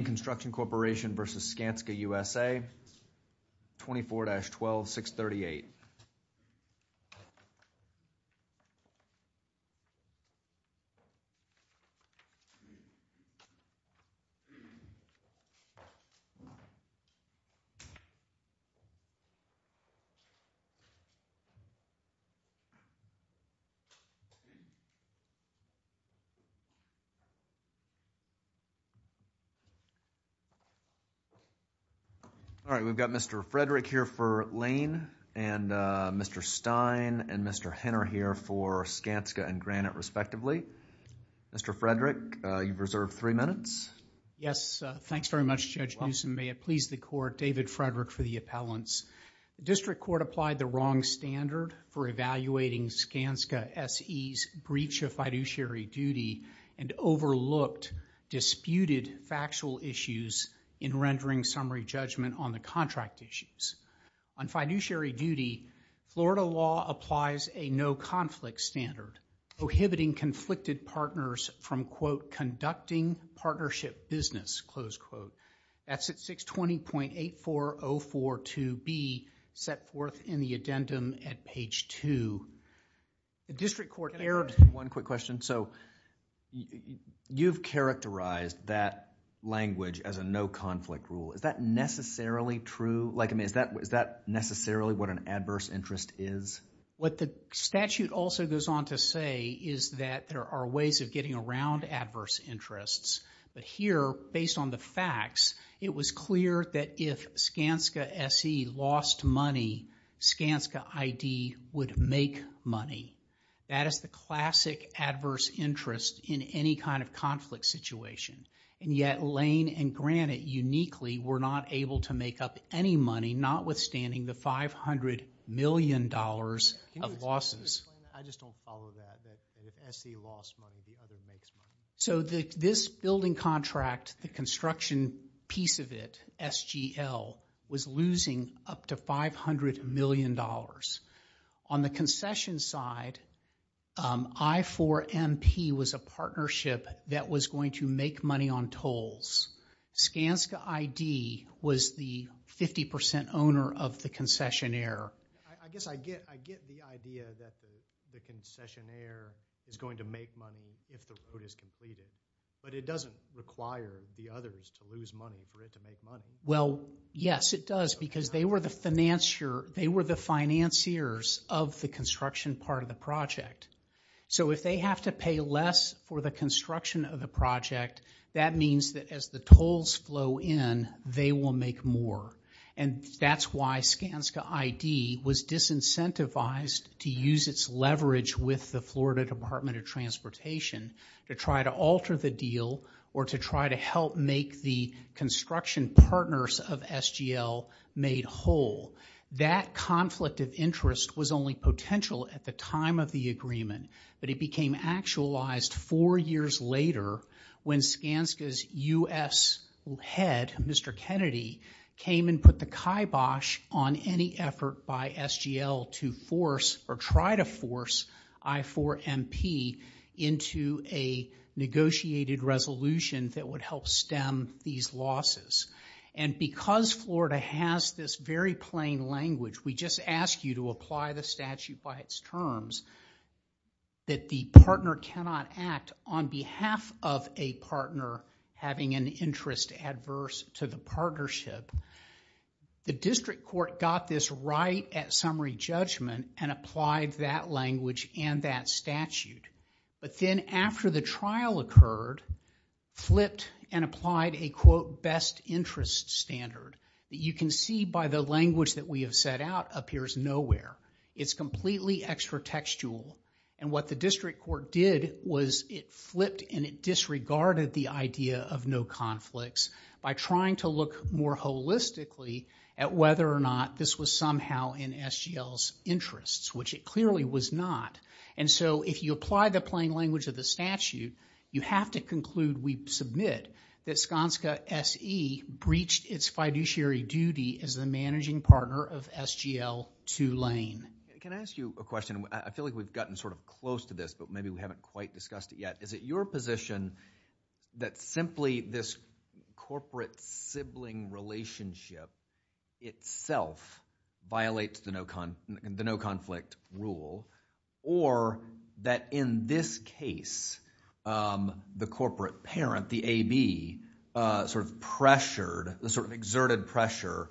Lane Construction Corporation v. Skanska USA, 24-12638. All right, we've got Mr. Frederick here for Lane and Mr. Stein and Mr. Henner here for Skanska and Granite, respectively. Mr. Frederick, you've reserved three minutes. Yes. Thanks very much, Judge Newsom. You're welcome. May it please the Court. David Frederick for the appellants. The District Court applied the wrong standard for evaluating Skanska SE's breach of fiduciary duty and overlooked disputed factual issues in rendering summary judgment on the contract issues. On fiduciary duty, Florida law applies a no-conflict standard, prohibiting conflicted partners from, quote, conducting partnership business, close quote. That's at 620.84042B, set forth in the addendum at page 2. The District Court erred... Can I ask you one quick question? You've characterized that language as a no-conflict rule. Is that necessarily true? Is that necessarily what an adverse interest is? What the statute also goes on to say is that there are ways of getting around adverse interests. But here, based on the facts, it was clear that if Skanska SE lost money, Skanska ID would make money. That is the classic adverse interest in any kind of conflict situation. And yet, Lane and Granite uniquely were not able to make up any money, notwithstanding the $500 million of losses. Can you explain? I just don't follow that, that if SE lost money, the other makes money. So this building contract, the construction piece of it, SGL, was losing up to $500 million. On the concession side, I4MP was a partnership that was going to make money on tolls. Skanska ID was the 50% owner of the concessionaire. I guess I get the idea that the concessionaire is going to make money if the report is completed. But it doesn't require the others to lose money for it to make money. Well, yes, it does, because they were the financiers of the construction part of the project. So if they have to pay less for the construction of the project, that means that as the tolls flow in, they will make more. And that's why Skanska ID was disincentivized to use its leverage with the Florida Department of Transportation to try to alter the deal or to try to help make the construction partners of SGL made whole. That conflict of interest was only potential at the time of the agreement, but it became actualized four years later when Skanska's U.S. head, Mr. Kennedy, came and put the kibosh on any effort by SGL to force or try to force I-4MP into a negotiated resolution that would help stem these losses. And because Florida has this very plain language, we just ask you to apply the statute by its terms, that the partner cannot act on behalf of a partner having an interest adverse to the partnership. The district court got this right at summary judgment and applied that language and that statute. But then after the trial occurred, flipped and applied a quote, best interest standard. You can see by the language that we have set out, appears nowhere. It's completely extra textual. And what the district court did was it flipped and it disregarded the idea of no conflicts by trying to look more holistically at whether or not this was somehow in SGL's interests, which it clearly was not. And so if you apply the plain language of the statute, you have to conclude, we submit that Skanska S.E. breached its fiduciary duty as the managing partner of SGL to Lane. Can I ask you a question? I feel like we've gotten sort of close to this, but maybe we haven't quite discussed it yet. Is it your position that simply this corporate sibling relationship itself violates the no conflict rule, or that in this case, the corporate parent, the AB, sort of pressured, the sort of exerted pressure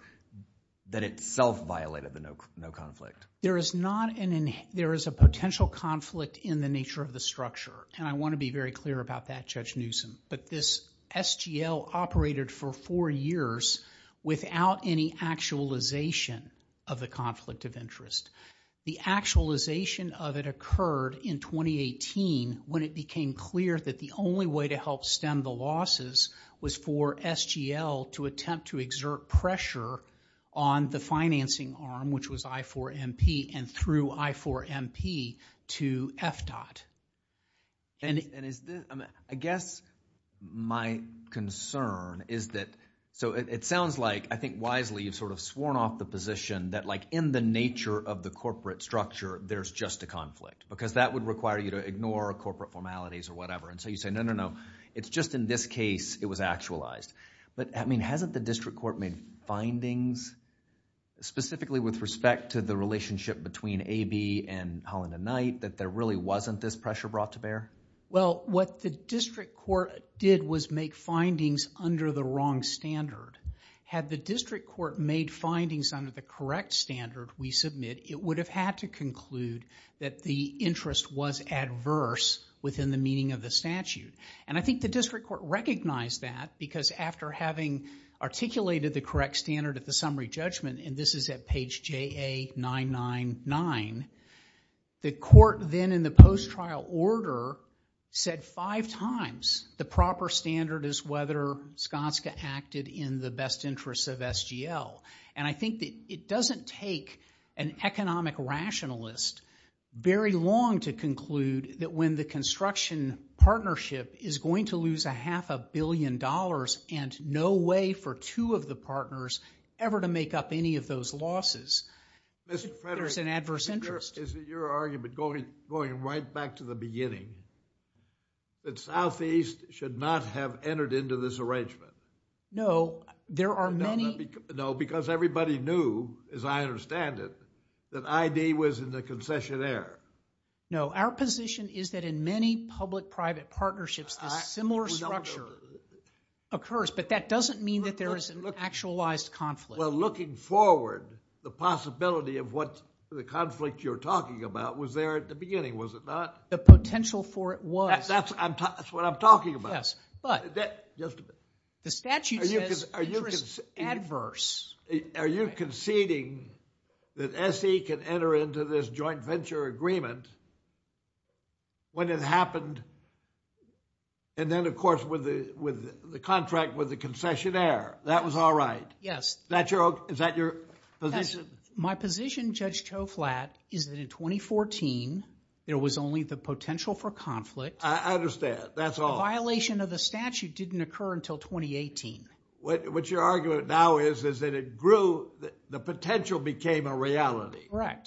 that itself violated the no conflict? There is not an, there is a potential conflict in the nature of the structure. And I want to be very clear about that, Judge Newsom. But this SGL operated for four years without any actualization of the conflict of interest. The actualization of it occurred in 2018 when it became clear that the only way to help stem the losses was for SGL to attempt to exert pressure on the financing arm, which was I-4MP, and threw I-4MP to FDOT. I guess my concern is that, so it sounds like, I think wisely, you've sort of sworn off the position that like in the nature of the corporate structure, there's just a conflict. Because that would require you to ignore corporate formalities or whatever. And so you say, no, no, no. It's just in this case, it was actualized. But I mean, hasn't the district court made findings, specifically with respect to the relationship between AB and Holland and Knight, that there really wasn't this pressure brought to bear? Well, what the district court did was make findings under the wrong standard. Had the district court made findings under the correct standard we submit, it would have had to conclude that the interest was adverse within the meaning of the statute. And I think the district court recognized that, because after having articulated the correct standard at the summary judgment, and this is at page JA-999, the court then in the post-trial order said five times the proper standard is whether Skanska acted in the best interests of SGL. And I think that it doesn't take an economic rationalist very long to conclude that when the construction partnership is going to lose a half a billion dollars and no way for two of the partners ever to make up any of those losses, there's an adverse interest. Mr. Frederick, is it your argument, going right back to the beginning, that Southeast should not have entered into this arrangement? No, there are many... No, because everybody knew, as I understand it, that ID was in the concessionaire. No, our position is that in many public-private partnerships, a similar structure occurs, but that doesn't mean that there is an actualized conflict. Well, looking forward, the possibility of what the conflict you're talking about was there at the beginning, was it not? The potential for it was. That's what I'm talking about. Yes, but... Just a minute. The statute says interest adverse. Are you conceding that SE can enter into this joint venture agreement when it happened, and then, of course, with the contract with the concessionaire? That was all right? Yes. Is that your position? My position, Judge Toflat, is that in 2014, there was only the potential for conflict. I understand. That's all. The violation of the statute didn't occur until 2018. What your argument now is, is that it grew, the potential became a reality. Okay.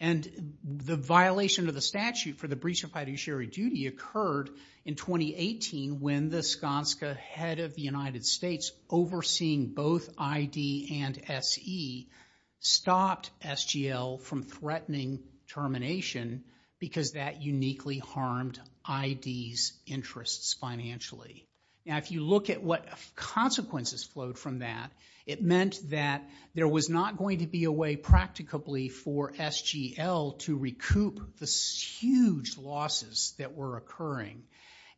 And the violation of the statute for the breach of fiduciary duty occurred in 2018 when the Skanska head of the United States, overseeing both ID and SE, stopped SGL from threatening termination because that uniquely harmed ID's interests financially. Now, if you look at what consequences flowed from that, it meant that there was not going to be a way, practicably, for SGL to recoup the huge losses that were occurring,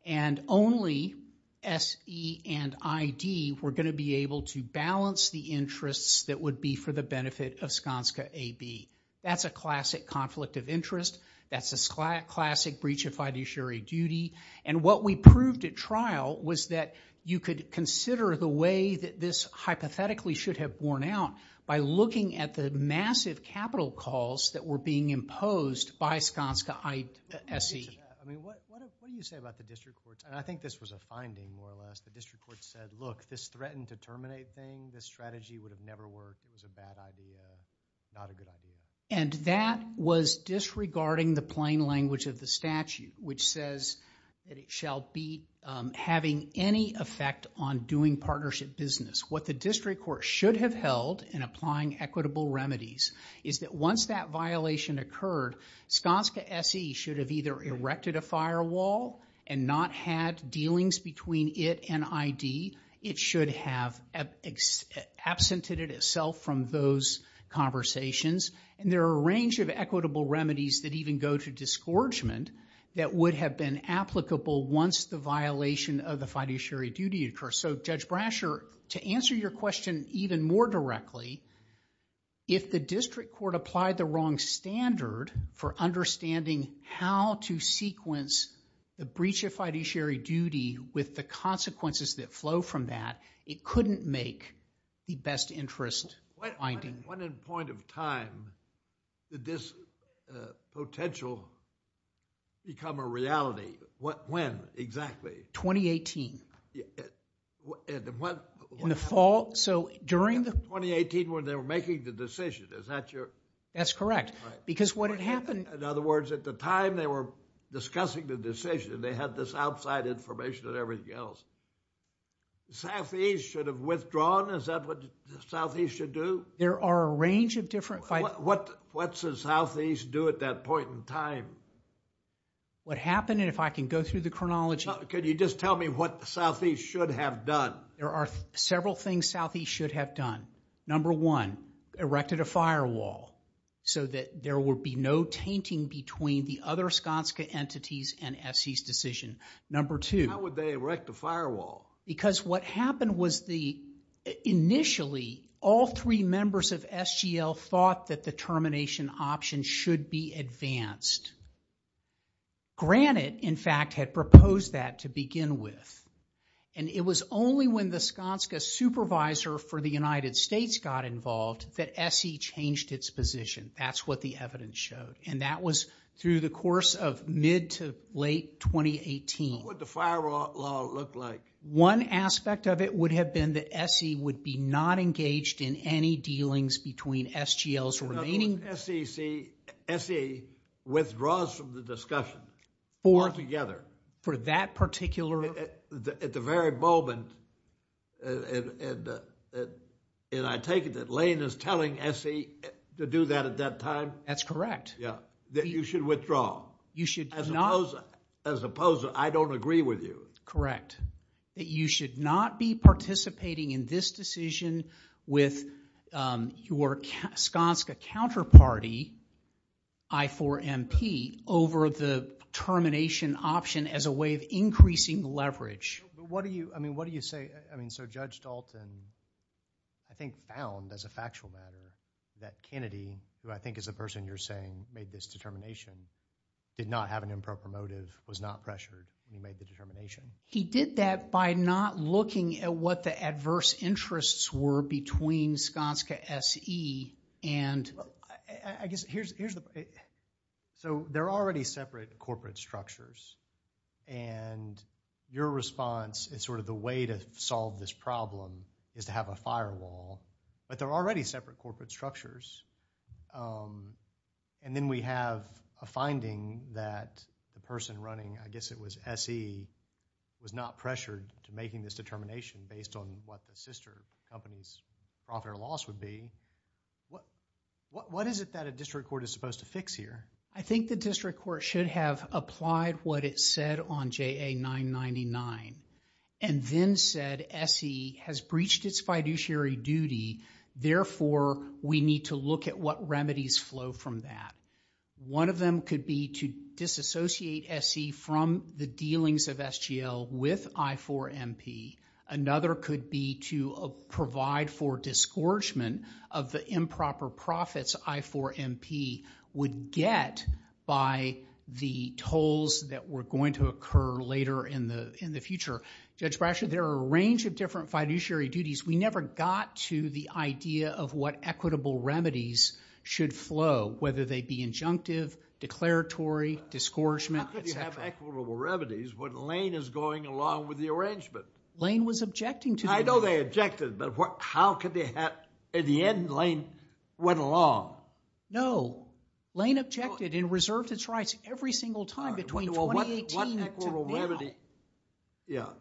and only SE and ID were going to be able to balance the interests that would be for the benefit of Skanska AB. That's a classic conflict of interest. That's a classic breach of fiduciary duty. And what we proved at trial was that you could consider the way that this hypothetically should have borne out by looking at the massive capital calls that were being imposed by Skanska SE. I mean, what do you say about the district courts? And I think this was a finding, more or less. The district courts said, look, this threatened to terminate thing. This strategy would have never worked. It was a bad idea. Not a good idea. And that was disregarding the plain language of the statute, which says that it shall be having any effect on doing partnership business. What the district court should have held in applying equitable remedies is that once that violation occurred, Skanska SE should have either erected a firewall and not had dealings between it and ID. It should have absented itself from those conversations. And there are a range of equitable remedies that even go to disgorgement that would have been applicable once the violation of the fiduciary duty occurred. So Judge Brasher, to answer your question even more directly, if the district court applied the wrong standard for understanding how to sequence the breach of fiduciary duty with the consequences that flow from that, it couldn't make the best interest finding. When and point of time did this potential become a reality? When exactly? In the fall? So during the... 2018 when they were making the decision. Is that your... That's correct. Because what had happened... In other words, at the time they were discussing the decision, they had this outside information and everything else. Southeast should have withdrawn? Is that what Southeast should do? There are a range of different... What should Southeast do at that point in time? What happened, and if I can go through the chronology... Could you just tell me what Southeast should have done? There are several things Southeast should have done. Number one, erected a firewall so that there would be no tainting between the other Skanska entities and SE's decision. Number two... How would they erect a firewall? Because what happened was the... Initially all three members of SGL thought that the termination option should be advanced. Granted, in fact, had proposed that to begin with, and it was only when the Skanska supervisor for the United States got involved that SE changed its position. That's what the evidence showed. And that was through the course of mid to late 2018. What would the firewall law look like? One aspect of it would have been that SE would be not engaged in any dealings between SGL's remaining... SE withdraws from the discussion altogether? For that particular... At the very moment, and I take it that Lane is telling SE to do that at that time? That's correct. Yeah. That you should withdraw. You should not... As opposed to, I don't agree with you. Correct. That you should not be participating in this decision with your Skanska counterparty, I4MP, over the termination option as a way of increasing leverage. What do you say? I mean, so Judge Dalton, I think, found as a factual matter that Kennedy, who I think is the person you're saying made this determination, did not have an improper motive, was not pressured, and he made the determination. He did that by not looking at what the adverse interests were between Skanska SE and... I guess here's the... So they're already separate corporate structures, and your response is sort of the way to solve this problem is to have a firewall, but they're already separate corporate structures, and then we have a finding that the person running, I guess it was SE, was not pressured to making this determination based on what the sister company's profit or loss would be. What is it that a district court is supposed to fix here? I think the district court should have applied what it said on JA-999, and then said SE has breached its fiduciary duty, therefore we need to look at what remedies flow from that. One of them could be to disassociate SE from the dealings of SGL with I-4MP. Another could be to provide for disgorgement of the improper profits I-4MP would get by the tolls that were going to occur later in the future. Judge Brasher, there are a range of different fiduciary duties. We never got to the idea of what equitable remedies should flow, whether they be injunctive, declaratory, disgorgement, et cetera. How could you have equitable remedies when Lane is going along with the arrangement? Lane was objecting to the... I know they objected, but how could they have... In the end, Lane went along. No. Lane objected and reserved its rights every single time between 2018 to now.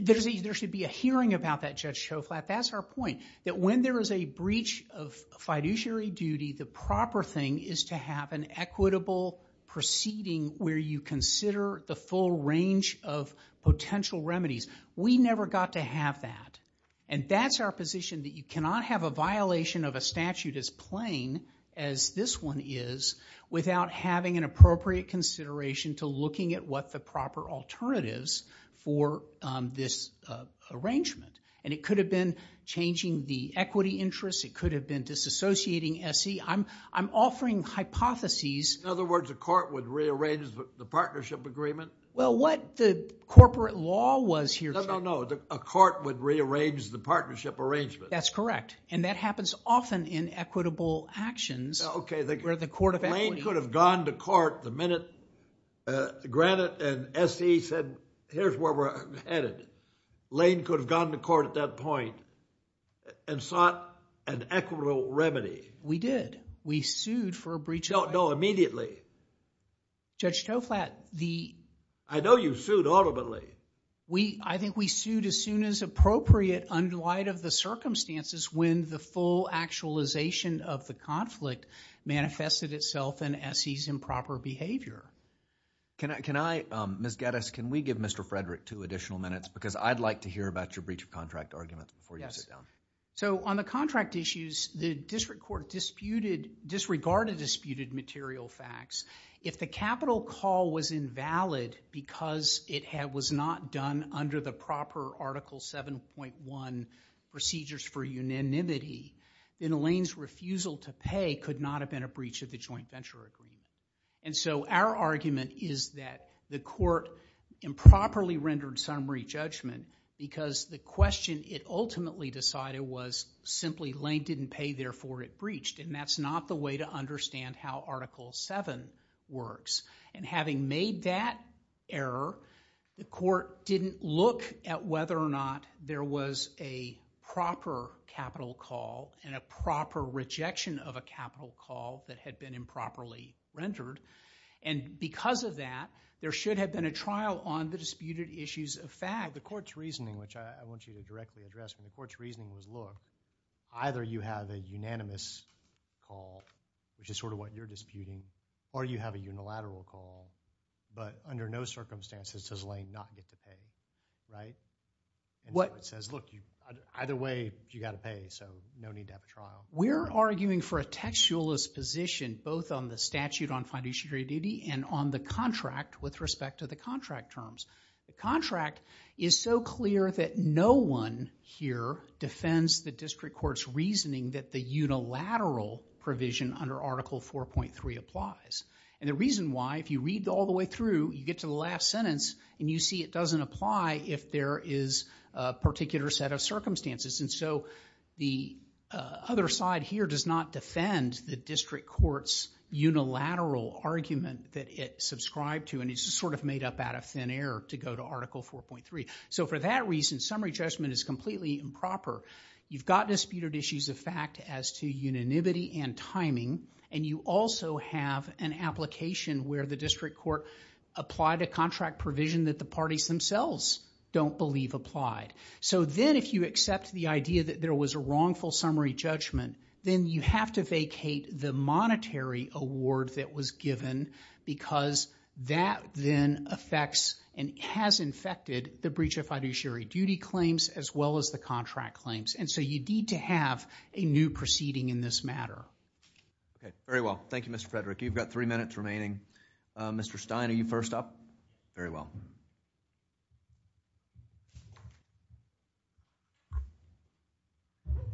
There should be a hearing about that, Judge Schoflat. That's our point, that when there is a breach of fiduciary duty, the proper thing is to have an equitable proceeding where you consider the full range of potential remedies. We never got to have that, and that's our position that you cannot have a violation of a statute as plain as this one is without having an appropriate consideration to looking at what the proper alternatives for this arrangement, and it could have been changing the equity interest. It could have been disassociating SE. I'm offering hypotheses... In other words, a court would rearrange the partnership agreement? Well, what the corporate law was here... No, no, no. A court would rearrange the partnership arrangement. That's correct, and that happens often in equitable actions where the court of equity... Granted, an SE said, here's where we're headed. Lane could have gone to court at that point and sought an equitable remedy. We did. We sued for a breach of... No, no, immediately. Judge Schoflat, the... I know you sued ultimately. I think we sued as soon as appropriate in light of the circumstances when the full actualization of the conflict manifested itself in SE's improper behavior. Can I... Ms. Geddes, can we give Mr. Frederick two additional minutes because I'd like to hear about your breach of contract argument before you sit down. On the contract issues, the district court disregarded disputed material facts. If the capital call was invalid because it was not done under the proper Article 7.1 procedures for unanimity, then Lane's refusal to pay could not have been a breach of the joint venture agreement. Our argument is that the court improperly rendered summary judgment because the question it ultimately decided was simply Lane didn't pay, therefore it breached. That's not the way to understand how Article 7 works. Having made that error, the court didn't look at whether or not there was a proper capital call and a proper rejection of a capital call that had been improperly rendered. Because of that, there should have been a trial on the disputed issues of fact. The court's reasoning, which I want you to directly address, when the court's reasoning was law, either you have a unanimous call, which is sort of what you're disputing, or you have a unilateral call, but under no circumstances does Lane not get to pay, right? The court says, look, either way, you got to pay, so no need to have a trial. We're arguing for a textualist position both on the statute on financiary duty and on the contract with respect to the contract terms. The contract is so clear that no one here defends the district court's reasoning that the unilateral provision under Article 4.3 applies. The reason why, if you read all the way through, you get to the last sentence, and you see it doesn't apply if there is a particular set of circumstances. The other side here does not defend the district court's unilateral argument that it subscribed to, and it's sort of made up out of thin air to go to Article 4.3. For that reason, summary judgment is completely improper. You've got disputed issues of fact as to unanimity and timing, and you also have an application where the district court applied a contract provision that the parties themselves don't believe applied. So then if you accept the idea that there was a wrongful summary judgment, then you have to vacate the monetary award that was given because that then affects and has infected the breach of fiduciary duty claims as well as the contract claims. And so you need to have a new proceeding in this matter. Very well. Thank you, Mr. Frederick. You've got three minutes remaining. Mr. Stein, are you first up? Very well.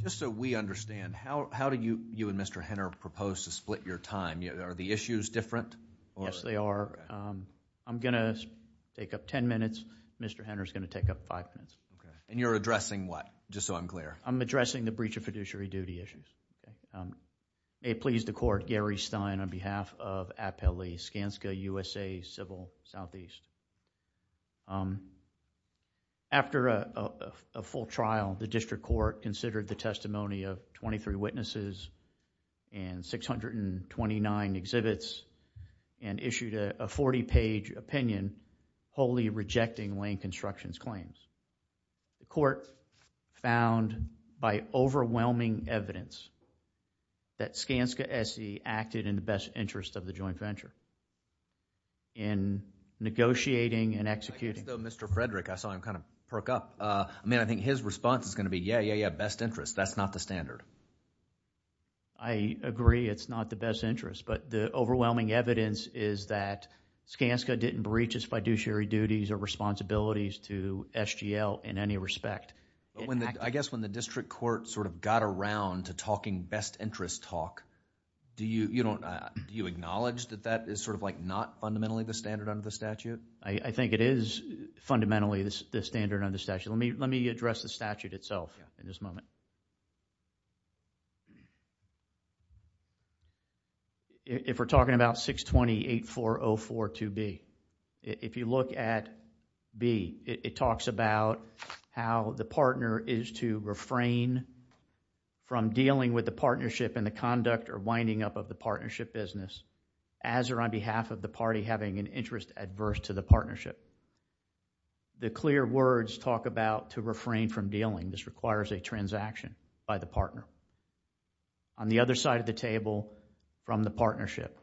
Just so we understand, how do you and Mr. Henner propose to split your time? Are the issues different? Yes, they are. I'm going to take up ten minutes. Mr. Henner is going to take up five minutes. And you're addressing what? Just so I'm clear. I'm addressing the breach of fiduciary duty issues. May it please the court, Gary Stein on behalf of Appellee Skanska USA Civil Southeast. After a full trial, the district court considered the testimony of 23 witnesses and 629 exhibits and issued a 40-page opinion wholly rejecting Wayne Constructions' claims. The court found by overwhelming evidence that Skanska SE acted in the best interest of the joint venture in negotiating and executing. I think, though, Mr. Frederick, I saw him kind of perk up. I mean, I think his response is going to be, yeah, yeah, yeah, best interest. That's not the standard. I agree. It's not the best interest. The overwhelming evidence is that Skanska didn't breach its fiduciary duties or responsibilities to SGL in any respect. I guess when the district court sort of got around to talking best interest talk, do you acknowledge that that is sort of like not fundamentally the standard under the statute? I think it is fundamentally the standard under the statute. Let me address the statute itself in this moment. If we're talking about 620-8404-2B, if you look at B, it talks about how the partner is to refrain from dealing with the partnership and the conduct or winding up of the partnership business as or on behalf of the party having an interest adverse to the partnership. The clear words talk about to refrain from dealing. This requires a transaction by the partner. On the other side of the table, from the partnership,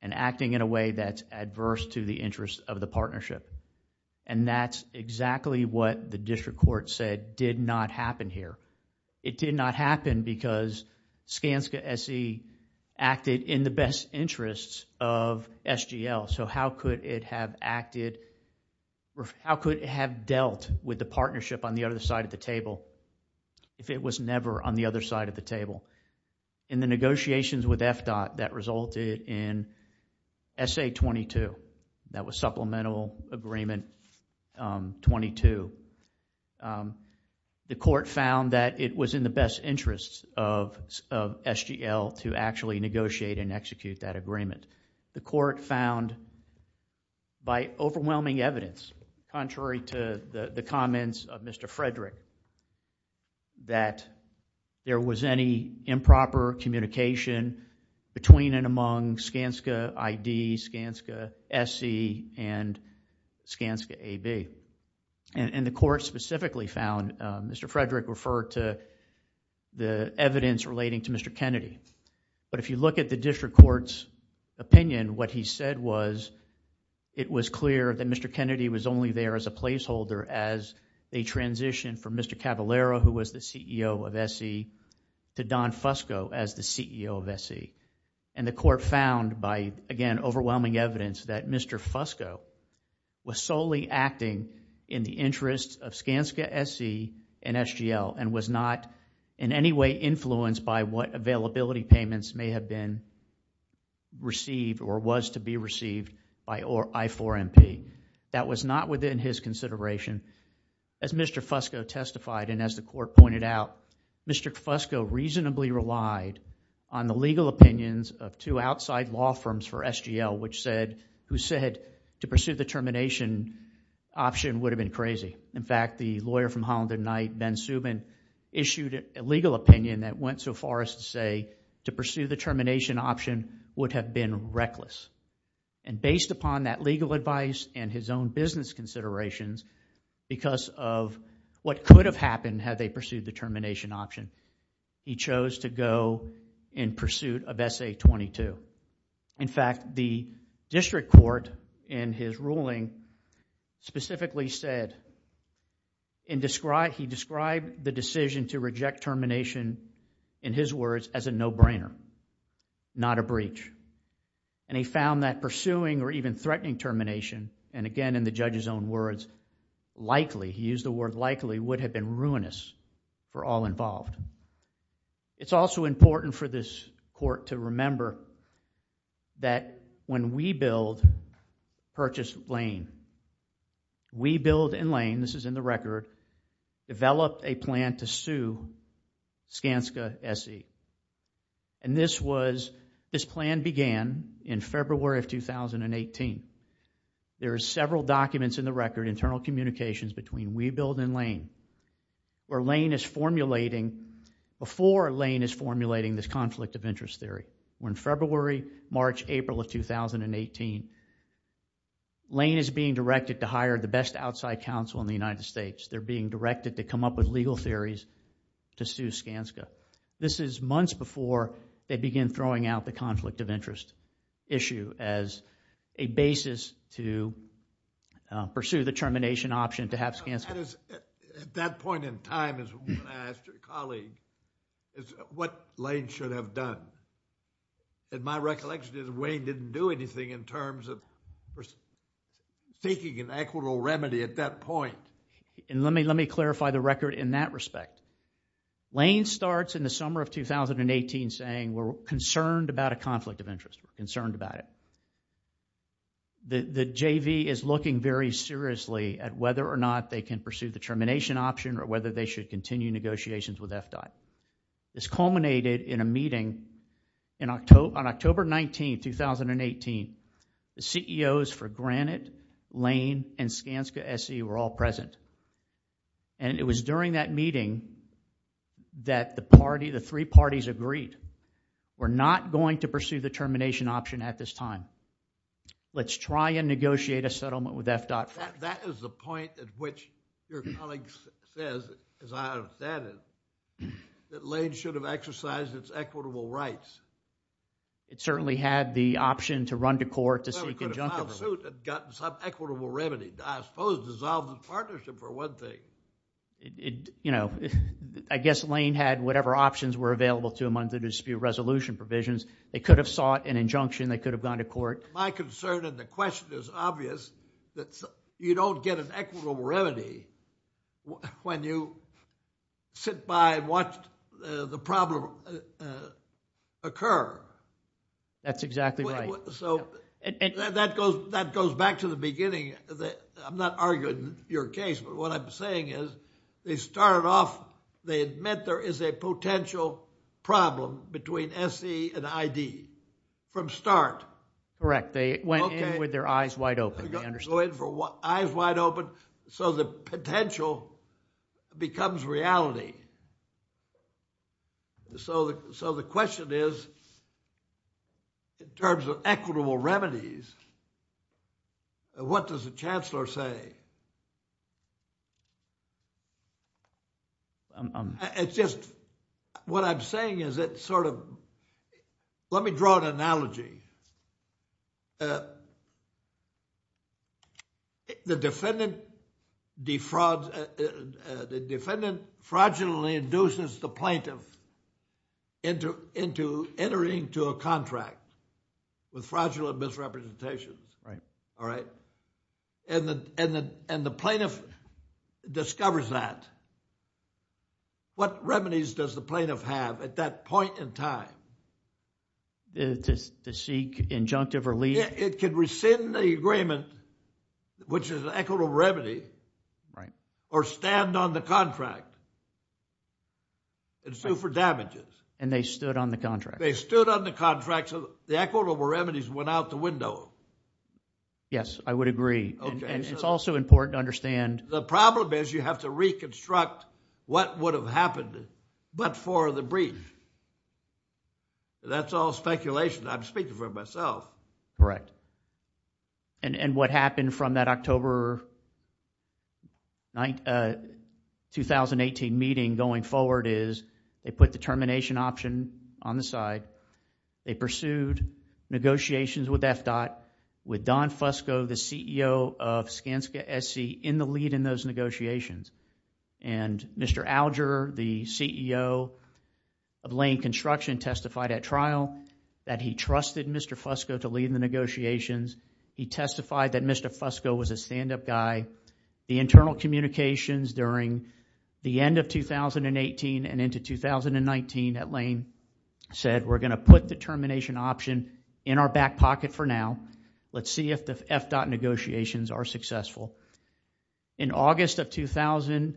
and acting in a way that's adverse to the interest of the partnership, and that's exactly what the district court said did not happen here. It did not happen because Skanska SE acted in the best interests of SGL, so how could it have dealt with the partnership on the other side of the table if it was never on the other side of the table? In the negotiations with FDOT that resulted in SA-22, that was supplemental agreement 22, the court found that it was in the best interests of SGL to actually negotiate and execute that agreement. The court found by overwhelming evidence, contrary to the comments of Mr. Frederick, that there was any improper communication between and among Skanska ID, Skanska SE, and Skanska AB. The court specifically found, Mr. Frederick referred to the evidence relating to Mr. Kennedy, but if you look at the district court's opinion, what he said was it was clear that Mr. Kennedy was only there as a placeholder as they transitioned from Mr. Cavallaro, who was the CEO of SE, to Don Fusco as the CEO of SE. The court found by, again, overwhelming evidence that Mr. Fusco was solely acting in the interests of Skanska SE and SGL and was not in any way influenced by what availability payments may have been received or was to be received by I4MP. That was not within his consideration. As Mr. Fusco testified and as the court pointed out, Mr. Fusco reasonably relied on the legal opinions of two outside law firms for SGL, who said to pursue the termination option would have been crazy. In fact, the lawyer from Holland and Knight, Ben Subin, issued a legal opinion that went so far as to say to pursue the termination option would have been reckless. Based upon that legal advice and his own business considerations, because of what could have happened had they pursued the termination option, he chose to go in pursuit of SA-22. In fact, the district court, in his ruling, specifically said he described the decision to reject termination, in his words, as a no-brainer, not a breach, and he found that pursuing or even threatening termination, and again, in the judge's own words, likely, he used the word likely, would have been ruinous for all involved. It's also important for this court to remember that when WeBuild purchased Lane, WeBuild and Lane, this is in the record, developed a plan to sue Skanska SE. And this was, this plan began in February of 2018. There are several documents in the record, internal communications between WeBuild and Lane, where Lane is formulating, before Lane is formulating this conflict of interest theory, when February, March, April of 2018, Lane is being directed to hire the best outside counsel in the United States. They're being directed to come up with legal theories to sue Skanska. This is months before they begin throwing out the conflict of interest issue as a basis to pursue the termination option to have Skanska. At that point in time, as I asked your colleague, is what Lane should have done? In my recollection, Wayne didn't do anything in terms of seeking an equitable remedy at that point. And let me, let me clarify the record in that respect. Lane starts in the summer of 2018 saying, we're concerned about a conflict of interest, we're concerned about it. The JV is looking very seriously at whether or not they can pursue the termination option or whether they should continue negotiations with FDOT. This culminated in a meeting in October, on October 19, 2018, the CEOs for Granite, Lane, and Skanska SE were all present. And it was during that meeting that the party, the three parties agreed, we're not going to pursue the termination option at this time. Let's try and negotiate a settlement with FDOT. That is the point at which your colleague says, as I understand it, that Lane should have exercised its equitable rights. It certainly had the option to run to court to seek a junctus remedy. It could have filed suit and gotten some equitable remedy, I suppose dissolved in partnership for one thing. You know, I guess Lane had whatever options were available to him under dispute resolution provisions. They could have sought an injunction. They could have gone to court. My concern, and the question is obvious, that you don't get an equitable remedy when you sit by and watch the problem occur. That's exactly right. So that goes back to the beginning. I'm not arguing your case, but what I'm saying is they start off, they admit there is a potential problem between S.E. and I.D. from start. Correct. They went in with their eyes wide open. They understood. They go in with their eyes wide open, so the potential becomes reality. So the question is, in terms of equitable remedies, what does the Chancellor say? It's just, what I'm saying is it sort of, let me draw an analogy. The defendant defrauds, the defendant fraudulently induces the plaintiff into entering to a contract with fraudulent misrepresentation. And the plaintiff discovers that. What remedies does the plaintiff have at that point in time? To seek injunctive or leave? It could rescind the agreement, which is an equitable remedy, or stand on the contract and sue for damages. And they stood on the contract. They stood on the contract, so the equitable remedies went out the window. Yes, I would agree. And it's also important to understand. The problem is you have to reconstruct what would have happened but for the breach. That's all speculation. I'm speaking for myself. Correct. And what happened from that October 2018 meeting going forward is they put the termination option on the side. They pursued negotiations with FDOT, with Don Fusco, the CEO of Skanska SC in the lead in those negotiations. And Mr. Alger, the CEO of Lane Construction testified at trial that he trusted Mr. Fusco to lead the negotiations. He testified that Mr. Fusco was a stand-up guy. The internal communications during the end of 2018 and into 2019 at Lane said, we're going to put the termination option in our back pocket for now. Let's see if the FDOT negotiations are successful. In August of 2019,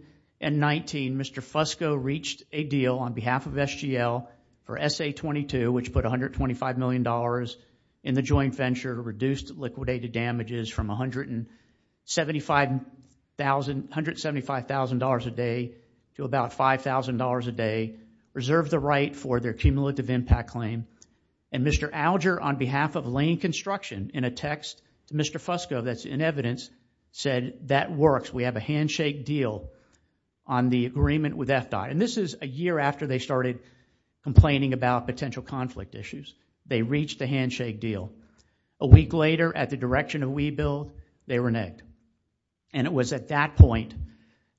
Mr. Fusco reached a deal on behalf of SGL or SA22, which put $125 million in the joint venture, reduced liquidated damages from $175,000 a day to about $5,000 a day, reserved the right for their cumulative impact claim. And Mr. Alger, on behalf of Lane Construction, in a text to Mr. Fusco that's in evidence, said that works. We have a handshake deal on the agreement with FDOT. And this is a year after they started complaining about potential conflict issues. They reached the handshake deal. A week later, at the direction of WeBuild, they were negged. And it was at that point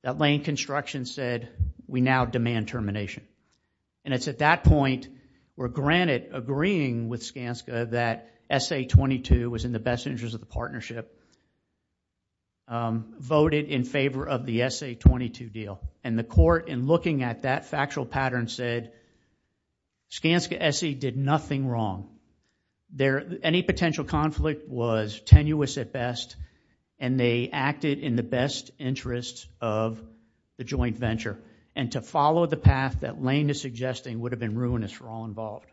that Lane Construction said, we now demand termination. And it's at that point where, granted, agreeing with Skanska that SA22 was in the best interest of the partnership, voted in favor of the SA22 deal. And the court, in looking at that factual pattern, said Skanska SE did nothing wrong. Any potential conflict was tenuous at best, and they acted in the best interest of the joint venture. And to follow the path that Lane is suggesting would have been ruinous for all involved.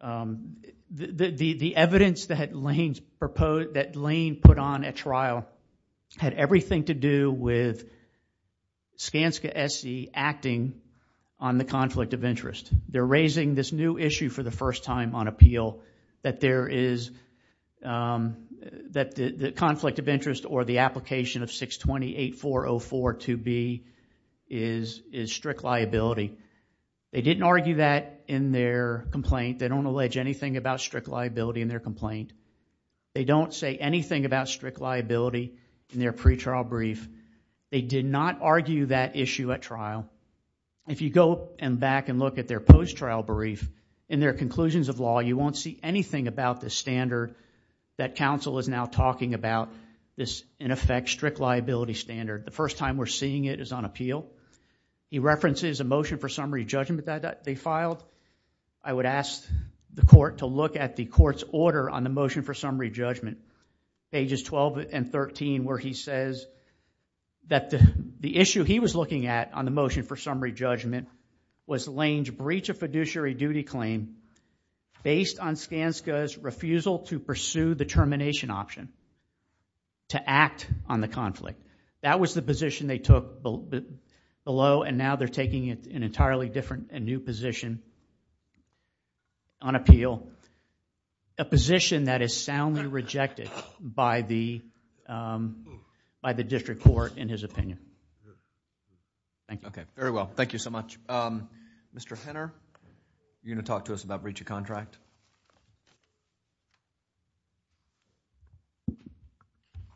The evidence that Lane put on at trial had everything to do with Skanska SE acting on the conflict of interest. They're raising this new issue for the first time on appeal, that there is, that the conflict of interest or the application of 620-8404-2B is strict liability. They didn't argue that in their complaint. They don't allege anything about strict liability in their complaint. They don't say anything about strict liability in their pretrial brief. They did not argue that issue at trial. If you go back and look at their post-trial brief, in their conclusions of law, you won't see anything about the standard that counsel is now talking about, this, in effect, strict liability standard. The first time we're seeing it is on appeal. He references a motion for summary judgment that they filed. I would ask the court to look at the court's order on the motion for summary judgment, pages 12 and 13, where he says that the issue he was looking at on the motion for summary judgment was Lane's breach of fiduciary duty claim based on Skanska's refusal to pursue the termination option, to act on the conflict. That was the position they took below, and now they're taking an entirely different and new position on appeal, a position that is soundly rejected by the district court, in his opinion. Thank you. Okay. Very well. Thank you so much. Mr. Henner, are you going to talk to us about breach of contract?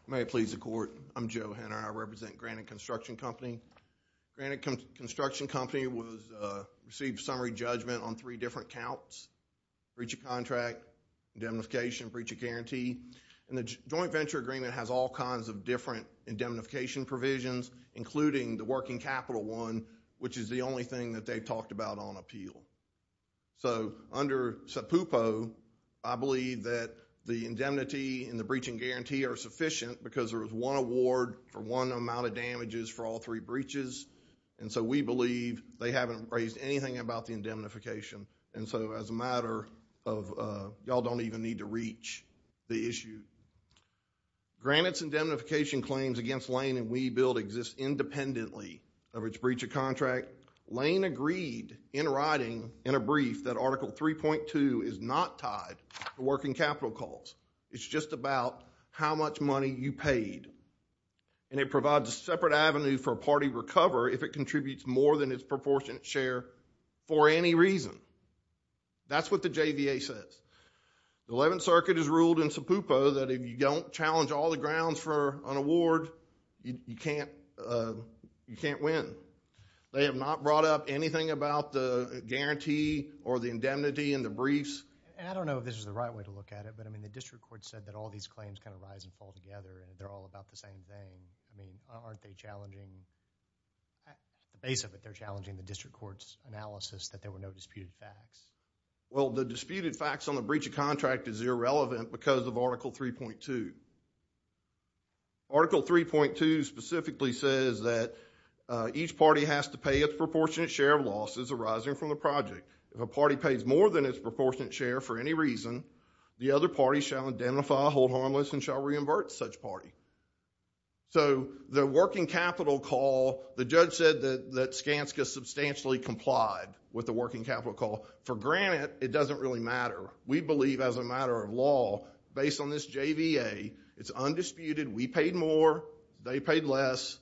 May it please the court, I'm Joe Henner, I represent Granite Construction Company. Granite Construction Company received summary judgment on three different counts, breach of contract, indemnification, breach of guarantee, and the joint venture agreement has all kinds of different indemnification provisions, including the working capital one, which is the only thing that they've talked about on appeal. So, under SEPUPO, I believe that the indemnity and the breach and guarantee are sufficient because there was one award for one amount of damages for all three breaches, and so we believe they haven't raised anything about the indemnification. And so, as a matter of, y'all don't even need to reach the issue. Granite's indemnification claims against Lane and WeBuild exist independently of its breach of contract. Lane agreed in writing, in a brief, that Article 3.2 is not tied to working capital calls. It's just about how much money you paid, and it provides a separate avenue for a party to recover if it contributes more than its proportionate share for any reason. That's what the JVA says. The 11th Circuit has ruled in SEPUPO that if you don't challenge all the grounds for an award, you can't win. They have not brought up anything about the guarantee or the indemnity in the briefs. I don't know if this is the right way to look at it, but I mean, the district court said that all these claims kind of rise and fall together, and they're all about the same thing. I mean, aren't they challenging, at the base of it, they're challenging the district court's analysis that there were no disputed facts? Well, the disputed facts on the breach of contract is irrelevant because of Article 3.2. Article 3.2 specifically says that each party has to pay its proportionate share of losses arising from the project. If a party pays more than its proportionate share for any reason, the other party shall indemnify, hold harmless, and shall reimburse such party. The working capital call, the judge said that Skanska substantially complied with the working capital call. For granted, it doesn't really matter. We believe, as a matter of law, based on this JVA, it's undisputed. We paid more, they paid less.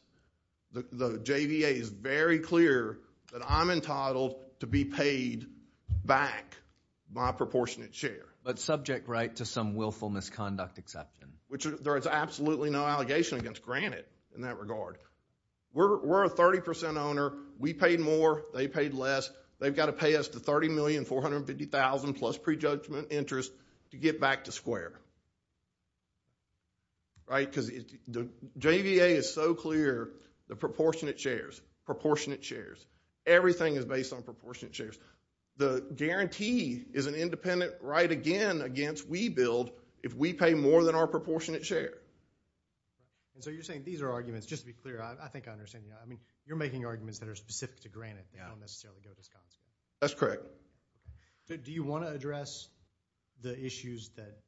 The JVA is very clear that I'm entitled to be paid back my proportionate share. But subject, right, to some willful misconduct excepted. Which there is absolutely no allegation against granted in that regard. We're a 30% owner. We paid more, they paid less. They've got to pay us the $30,450,000 plus pre-judgment interest to get back to square. Right? Because the JVA is so clear, the proportionate shares, proportionate shares, everything is based on proportionate shares. The guarantee is an independent right, again, against we build if we pay more than our proportionate share. So you're saying these are arguments, just to be clear, I think I understand you. You're making arguments that are specific to granted, that don't necessarily go to this concept. That's correct. Do you want to address the issues that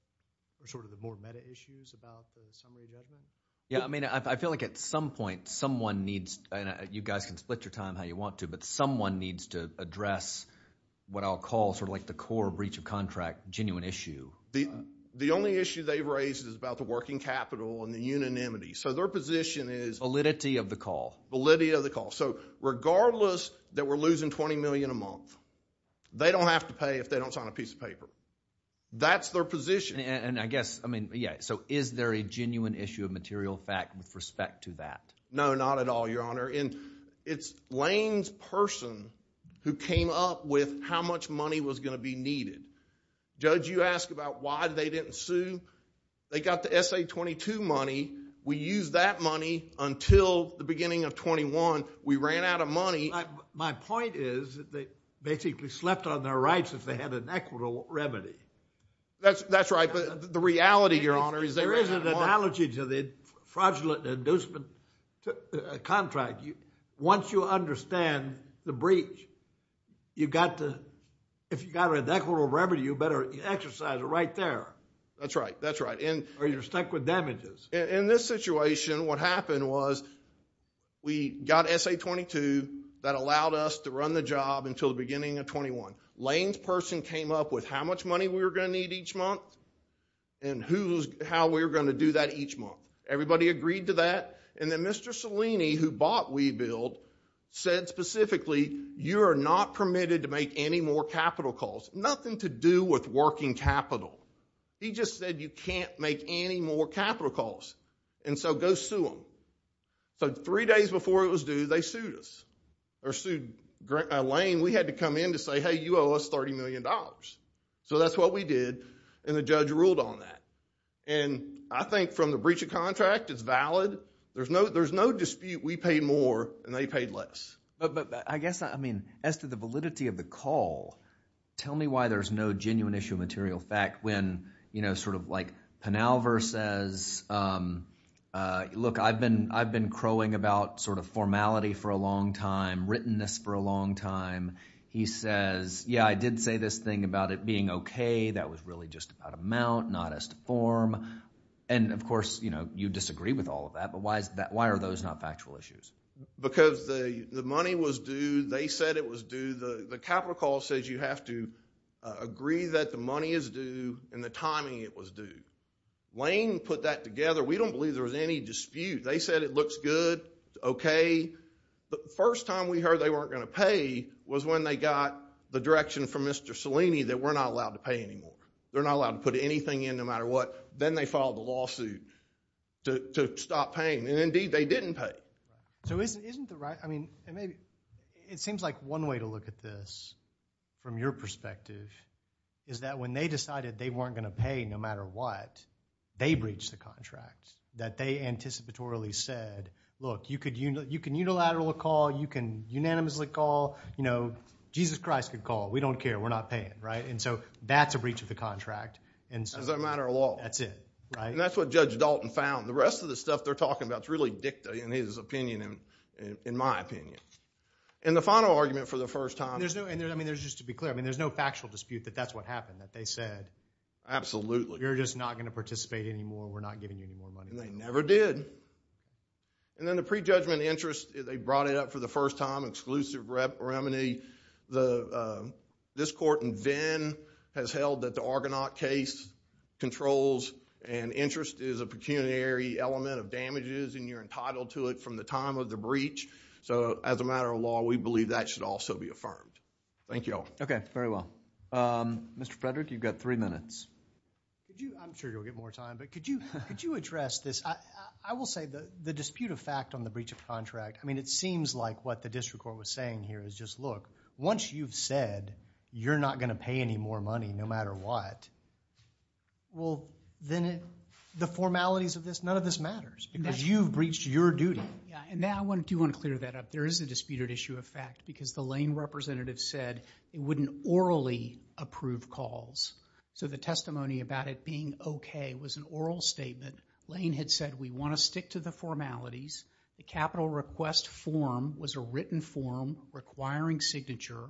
are sort of the more meta issues about the summary revenue? Yeah, I mean, I feel like at some point, someone needs, and you guys can split your time how you want to, but someone needs to address what I'll call sort of like the core breach of contract genuine issue. The only issue they raised is about the working capital and the unanimity. So their position is- Validity of the call. Validity of the call. So regardless that we're losing $20 million a month, they don't have to pay if they don't sign a piece of paper. That's their position. And I guess, I mean, yeah, so is there a genuine issue of material fact with respect to that? No, not at all, Your Honor. It's Lane's person who came up with how much money was going to be needed. Judge, you asked about why they didn't sue. They got the SA-22 money. We used that money until the beginning of 21. We ran out of money. My point is that they basically slept on their rights if they had an equitable remedy. That's right. But the reality, Your Honor, is they ran out of money. There is an analogy to the fraudulent inducement contract. Once you understand the breach, if you got an equitable remedy, you better exercise it right there. That's right. That's right. Or you're stuck with damages. In this situation, what happened was we got SA-22. That allowed us to run the job until the beginning of 21. Lane's person came up with how much money we were going to need each month and how we were going to do that each month. Everybody agreed to that. And then Mr. Cellini, who bought WeBuild, said specifically, you are not permitted to make any more capital calls, nothing to do with working capital. He just said you can't make any more capital calls, and so go sue them. Three days before it was due, they sued us, or sued Lane. We had to come in to say, hey, you owe us $30 million. So that's what we did, and the judge ruled on that. I think from the breach of contract, it's valid. There's no dispute we paid more and they paid less. I guess, as to the validity of the call, tell me why there's no genuine issue of material fact when Penalver says, look, I've been crowing about formality for a long time, written this for a long time. He says, yeah, I did say this thing about it being okay. That was really just about amount, not as to form. And of course, you disagree with all of that, but why are those not factual issues? Because the money was due. They said it was due. The capital call says you have to agree that the money is due and the timing it was due. Lane put that together. We don't believe there was any dispute. They said it looks good, okay. The first time we heard they weren't going to pay was when they got the direction from Mr. Cellini that we're not allowed to pay anymore. They're not allowed to put anything in, no matter what. Then they filed a lawsuit to stop paying, and indeed, they didn't pay. So isn't the right, I mean, it seems like one way to look at this from your perspective is that when they decided they weren't going to pay no matter what, they breached the contract, that they anticipatorily said, look, you can unilaterally call, you can unanimously call. Jesus Christ could call. We don't care. We're not paying, right? And so that's a breach of the contract. That's a matter of law. That's it, right? And that's what Judge Dalton found. The rest of the stuff they're talking about is really dicta, in his opinion, in my opinion. And the final argument for the first time- And there's no, I mean, just to be clear, I mean, there's no factual dispute that that's what happened, that they said- Absolutely. You're just not going to participate anymore. We're not getting any more money. And they never did. And then the prejudgment interest, they brought it up for the first time, exclusive remedy. Obviously, this court in Venn has held that the Argonaut case controls and interest is a pecuniary element of damages, and you're entitled to it from the time of the breach. So as a matter of law, we believe that should also be affirmed. Thank you all. Okay. Very well. Mr. Frederick, you've got three minutes. I'm sure you'll get more time, but could you address this? I will say the dispute of fact on the breach of contract, I mean, it seems like what the district court was saying here is just, look, once you've said you're not going to pay any more money, no matter what, well, then the formalities of this, none of this matters because you've breached your duty. Yeah. And now I do want to clear that up. There is a disputed issue of fact because the Lane representative said it wouldn't orally approve calls. So the testimony about it being okay was an oral statement. Lane had said, we want to stick to the formalities, the capital request form was a written form requiring signature.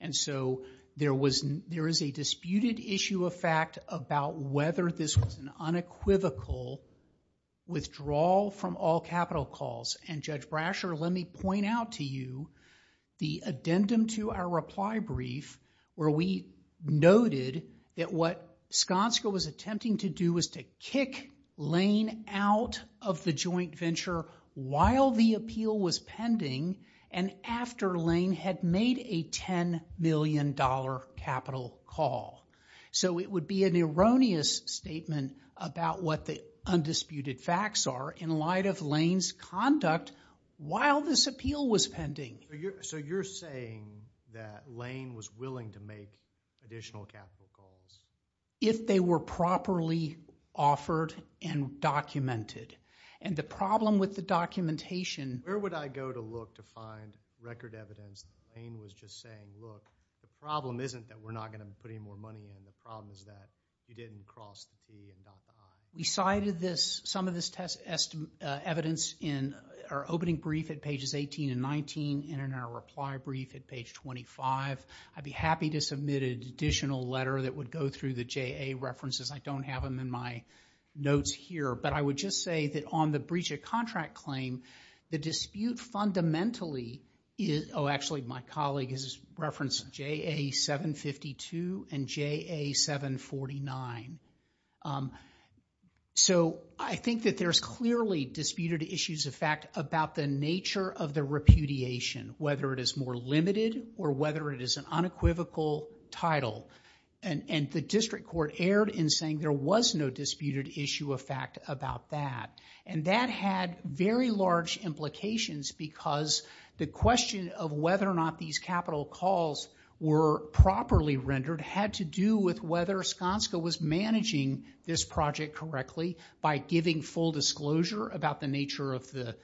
And so there is a disputed issue of fact about whether this was an unequivocal withdrawal from all capital calls. And Judge Brasher, let me point out to you the addendum to our reply brief where we noted that what Skanska was attempting to do was to kick Lane out of the joint venture while the appeal was pending and after Lane had made a $10 million capital call. So it would be an erroneous statement about what the undisputed facts are in light of Lane's conduct while this appeal was pending. So you're saying that Lane was willing to make additional capital calls? If they were properly offered and documented. And the problem with the documentation... Where would I go to look to find record evidence that Lane was just saying, look, the problem isn't that we're not going to put any more money in, the problem is that you didn't cross the D and not the I. We cited some of this evidence in our opening brief at pages 18 and 19 and in our reply brief at page 25. I'd be happy to submit an additional letter that would go through the JA references. I don't have them in my notes here. But I would just say that on the breach of contract claim, the dispute fundamentally is... Oh, actually, my colleague has referenced JA 752 and JA 749. So I think that there's clearly disputed issues of fact about the nature of the repudiation, whether it is more limited or whether it is an unequivocal title. And the district court erred in saying there was no disputed issue of fact about that. And that had very large implications because the question of whether or not these capital calls were properly rendered had to do with whether Skanska was managing this project correctly by giving full disclosure about the nature of the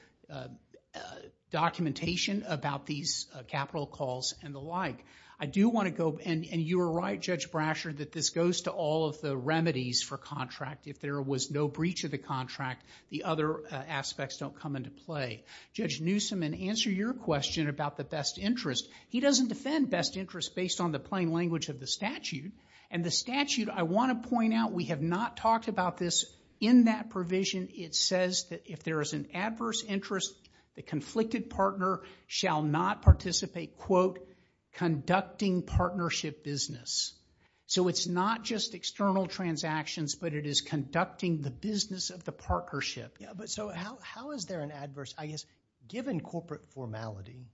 documentation about these capital calls and the like. I do want to go... And you were right, Judge Brasher, that this goes to all of the remedies for contract. If there was no breach of the contract, the other aspects don't come into play. Judge Newsome, in answer to your question about the best interest, he doesn't defend best interest based on the plain language of the statute. And the statute, I want to point out, we have not talked about this in that provision. It says that if there is an adverse interest, the conflicted partner shall not participate in a, quote, conducting partnership business. So it's not just external transactions, but it is conducting the business of the partnership. Yeah, but so how is there an adverse, I guess, given corporate formality,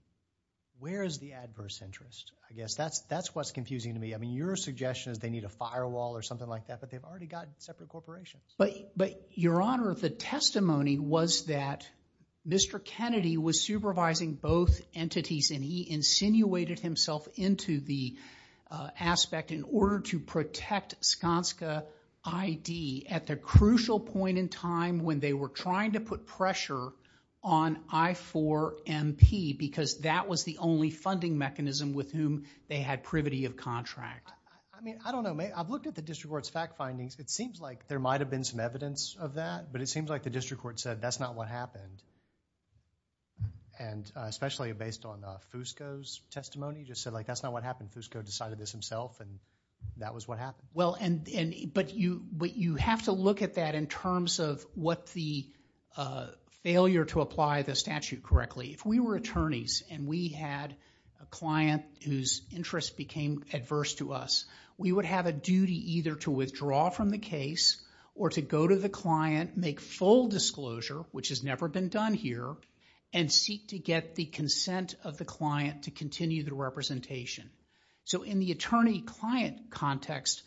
where is the adverse interest? I guess that's what's confusing to me. I mean, your suggestion is they need a firewall or something like that, but they've already got separate corporations. But Your Honor, the testimony was that Mr. Kennedy was supervising both entities and he insinuated himself into the aspect in order to protect Skanska ID at the crucial point in time when they were trying to put pressure on I-4MP because that was the only funding mechanism with whom they had privity of contract. I mean, I don't know. I've looked at the district court's fact findings. It seems like there might have been some evidence of that, but it seems like the district court said that's not what happened, and especially based on Fusco's testimony, just said that's not what happened. Fusco decided this himself and that was what happened. But you have to look at that in terms of what the failure to apply the statute correctly. If we were attorneys and we had a client whose interest became adverse to us, we would have a duty either to withdraw from the case or to go to the client, make full disclosure, which has never been done here, and seek to get the consent of the client to continue the representation. So in the attorney-client context,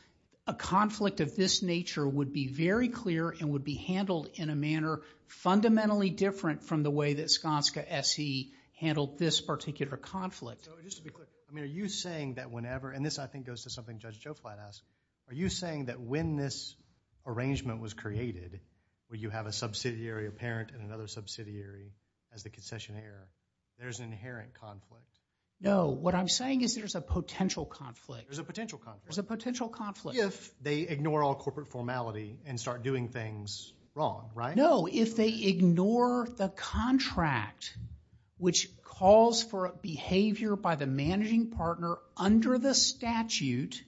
a conflict of this nature would be very clear and would be handled in a manner fundamentally different from the way that Skanska SE handled this particular conflict. So just to be clear, I mean, are you saying that whenever, and this I think goes to something Judge Joflat asked, are you saying that when this arrangement was created, where you have a subsidiary, a parent, and another subsidiary as the concessionaire, there's an inherent conflict? No. What I'm saying is there's a potential conflict. There's a potential conflict. There's a potential conflict. If they ignore all corporate formality and start doing things wrong, right? No, if they ignore the contract, which calls for a behavior by the managing partner under the statute,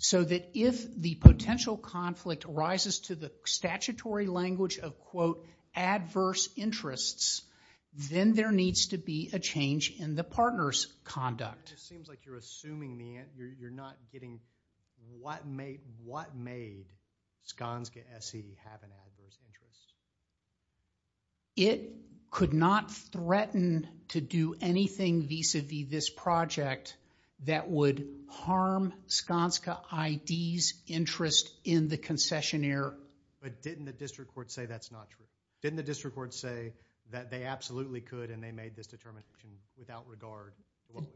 so that if the potential conflict arises to the statutory language of, quote, adverse interests, then there needs to be a change in the partner's conduct. It just seems like you're assuming, you're not getting, what made Skanska SE have an adverse interest? It could not threaten to do anything vis-a-vis this project that would harm Skanska ID's interest in the concessionaire. But didn't the district court say that's not true? Didn't the district court say that they absolutely could and they made this determination without regard?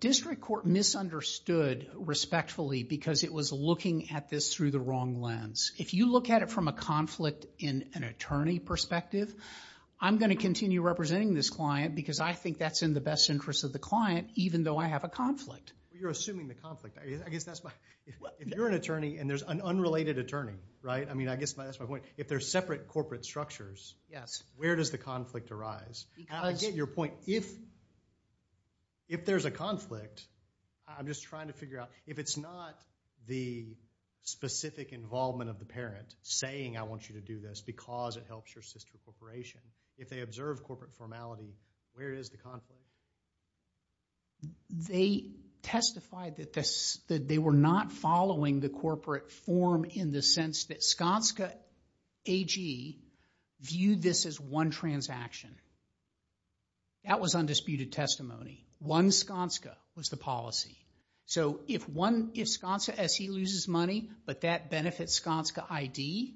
District court misunderstood respectfully because it was looking at this through the wrong lens. If you look at it from a conflict in an attorney perspective, I'm going to continue representing this client because I think that's in the best interest of the client, even though I have a conflict. You're assuming the conflict. I guess that's my, if you're an attorney and there's an unrelated attorney, right? I mean, I guess that's my point. If they're separate corporate structures, where does the conflict arise? I get your point. If there's a conflict, I'm just trying to figure out, if it's not the specific involvement of the parent saying I want you to do this because it helps your sister corporation, if they observe corporate formality, where is the conflict? They testified that they were not following the corporate form in the sense that Skanska AG viewed this as one transaction. That was undisputed testimony. One Skanska was the policy. So if Skanska SE loses money, but that benefits Skanska ID,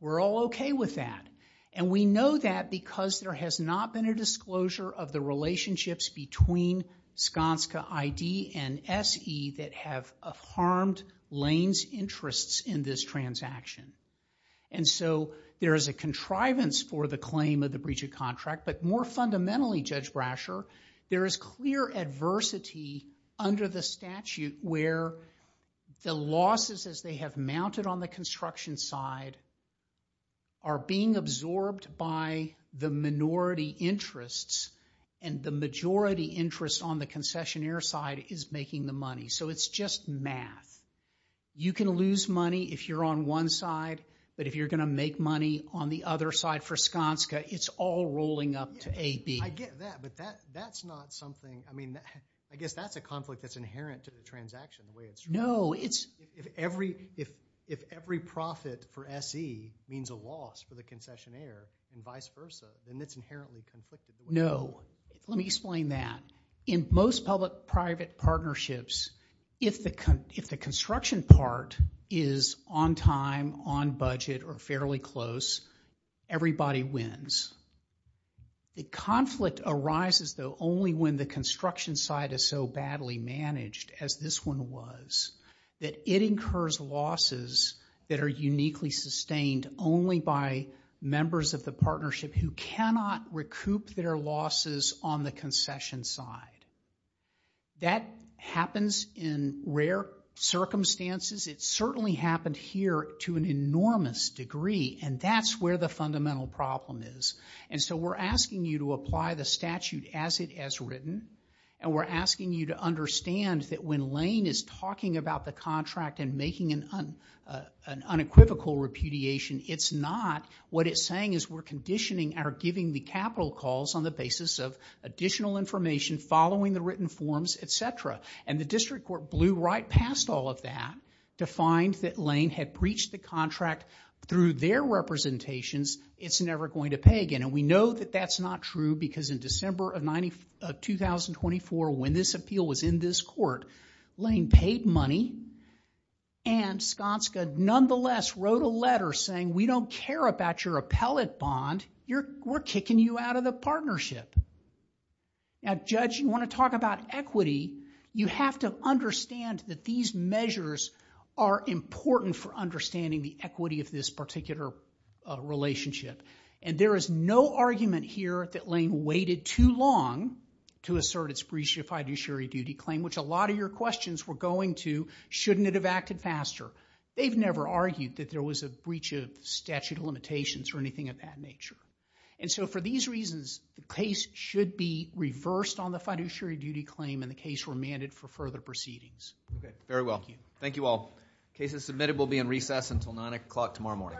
we're all okay with that. And we know that because there has not been a disclosure of the relationships between Skanska ID and SE that have harmed Lane's interests in this transaction. And so there is a contrivance for the claim of the breach of contract, but more fundamentally, Judge Brasher, there is clear adversity under the statute where the losses as they have mounted on the construction side are being absorbed by the minority interests and the majority interest on the concessionaire side is making the money. So it's just math. You can lose money if you're on one side, but if you're going to make money on the other side for Skanska, it's all rolling up to AB. I get that, but that's not something, I mean, I guess that's a conflict that's inherent to the transaction the way it's true. No, it's... If every profit for SE means a loss for the concessionaire and vice versa, then it's inherently conflicted. No. Let me explain that. In most public-private partnerships, if the construction part is on time, on budget, or fairly close, everybody wins. The conflict arises, though, only when the construction side is so badly managed as this one was that it incurs losses that are uniquely sustained only by members of the partnership who cannot recoup their losses on the concession side. That happens in rare circumstances. It certainly happened here to an enormous degree, and that's where the fundamental problem is. And so we're asking you to apply the statute as it has written, and we're asking you to understand that when Lane is talking about the contract and making an unequivocal repudiation, it's not what it's saying is we're conditioning our giving the capital calls on the basis of additional information following the written forms, et cetera. And the district court blew right past all of that to find that Lane had breached the contract through their representations. It's never going to pay again. And we know that that's not true because in December of 2024, when this appeal was in this court, Lane paid money and Skanska nonetheless wrote a letter saying, we don't care about your appellate bond. We're kicking you out of the partnership. Now, Judge, you want to talk about equity, you have to understand that these measures are important for understanding the equity of this particular relationship. And there is no argument here that Lane waited too long to assert its breached fiduciary duty claim, which a lot of your questions were going to, shouldn't it have acted faster? They've never argued that there was a breach of statute of limitations or anything of that nature. And so for these reasons, the case should be reversed on the fiduciary duty claim and the case remanded for further proceedings. Okay. Very well. Thank you. Thank you all. Cases submitted will be in recess until 9 o'clock tomorrow morning. All rise.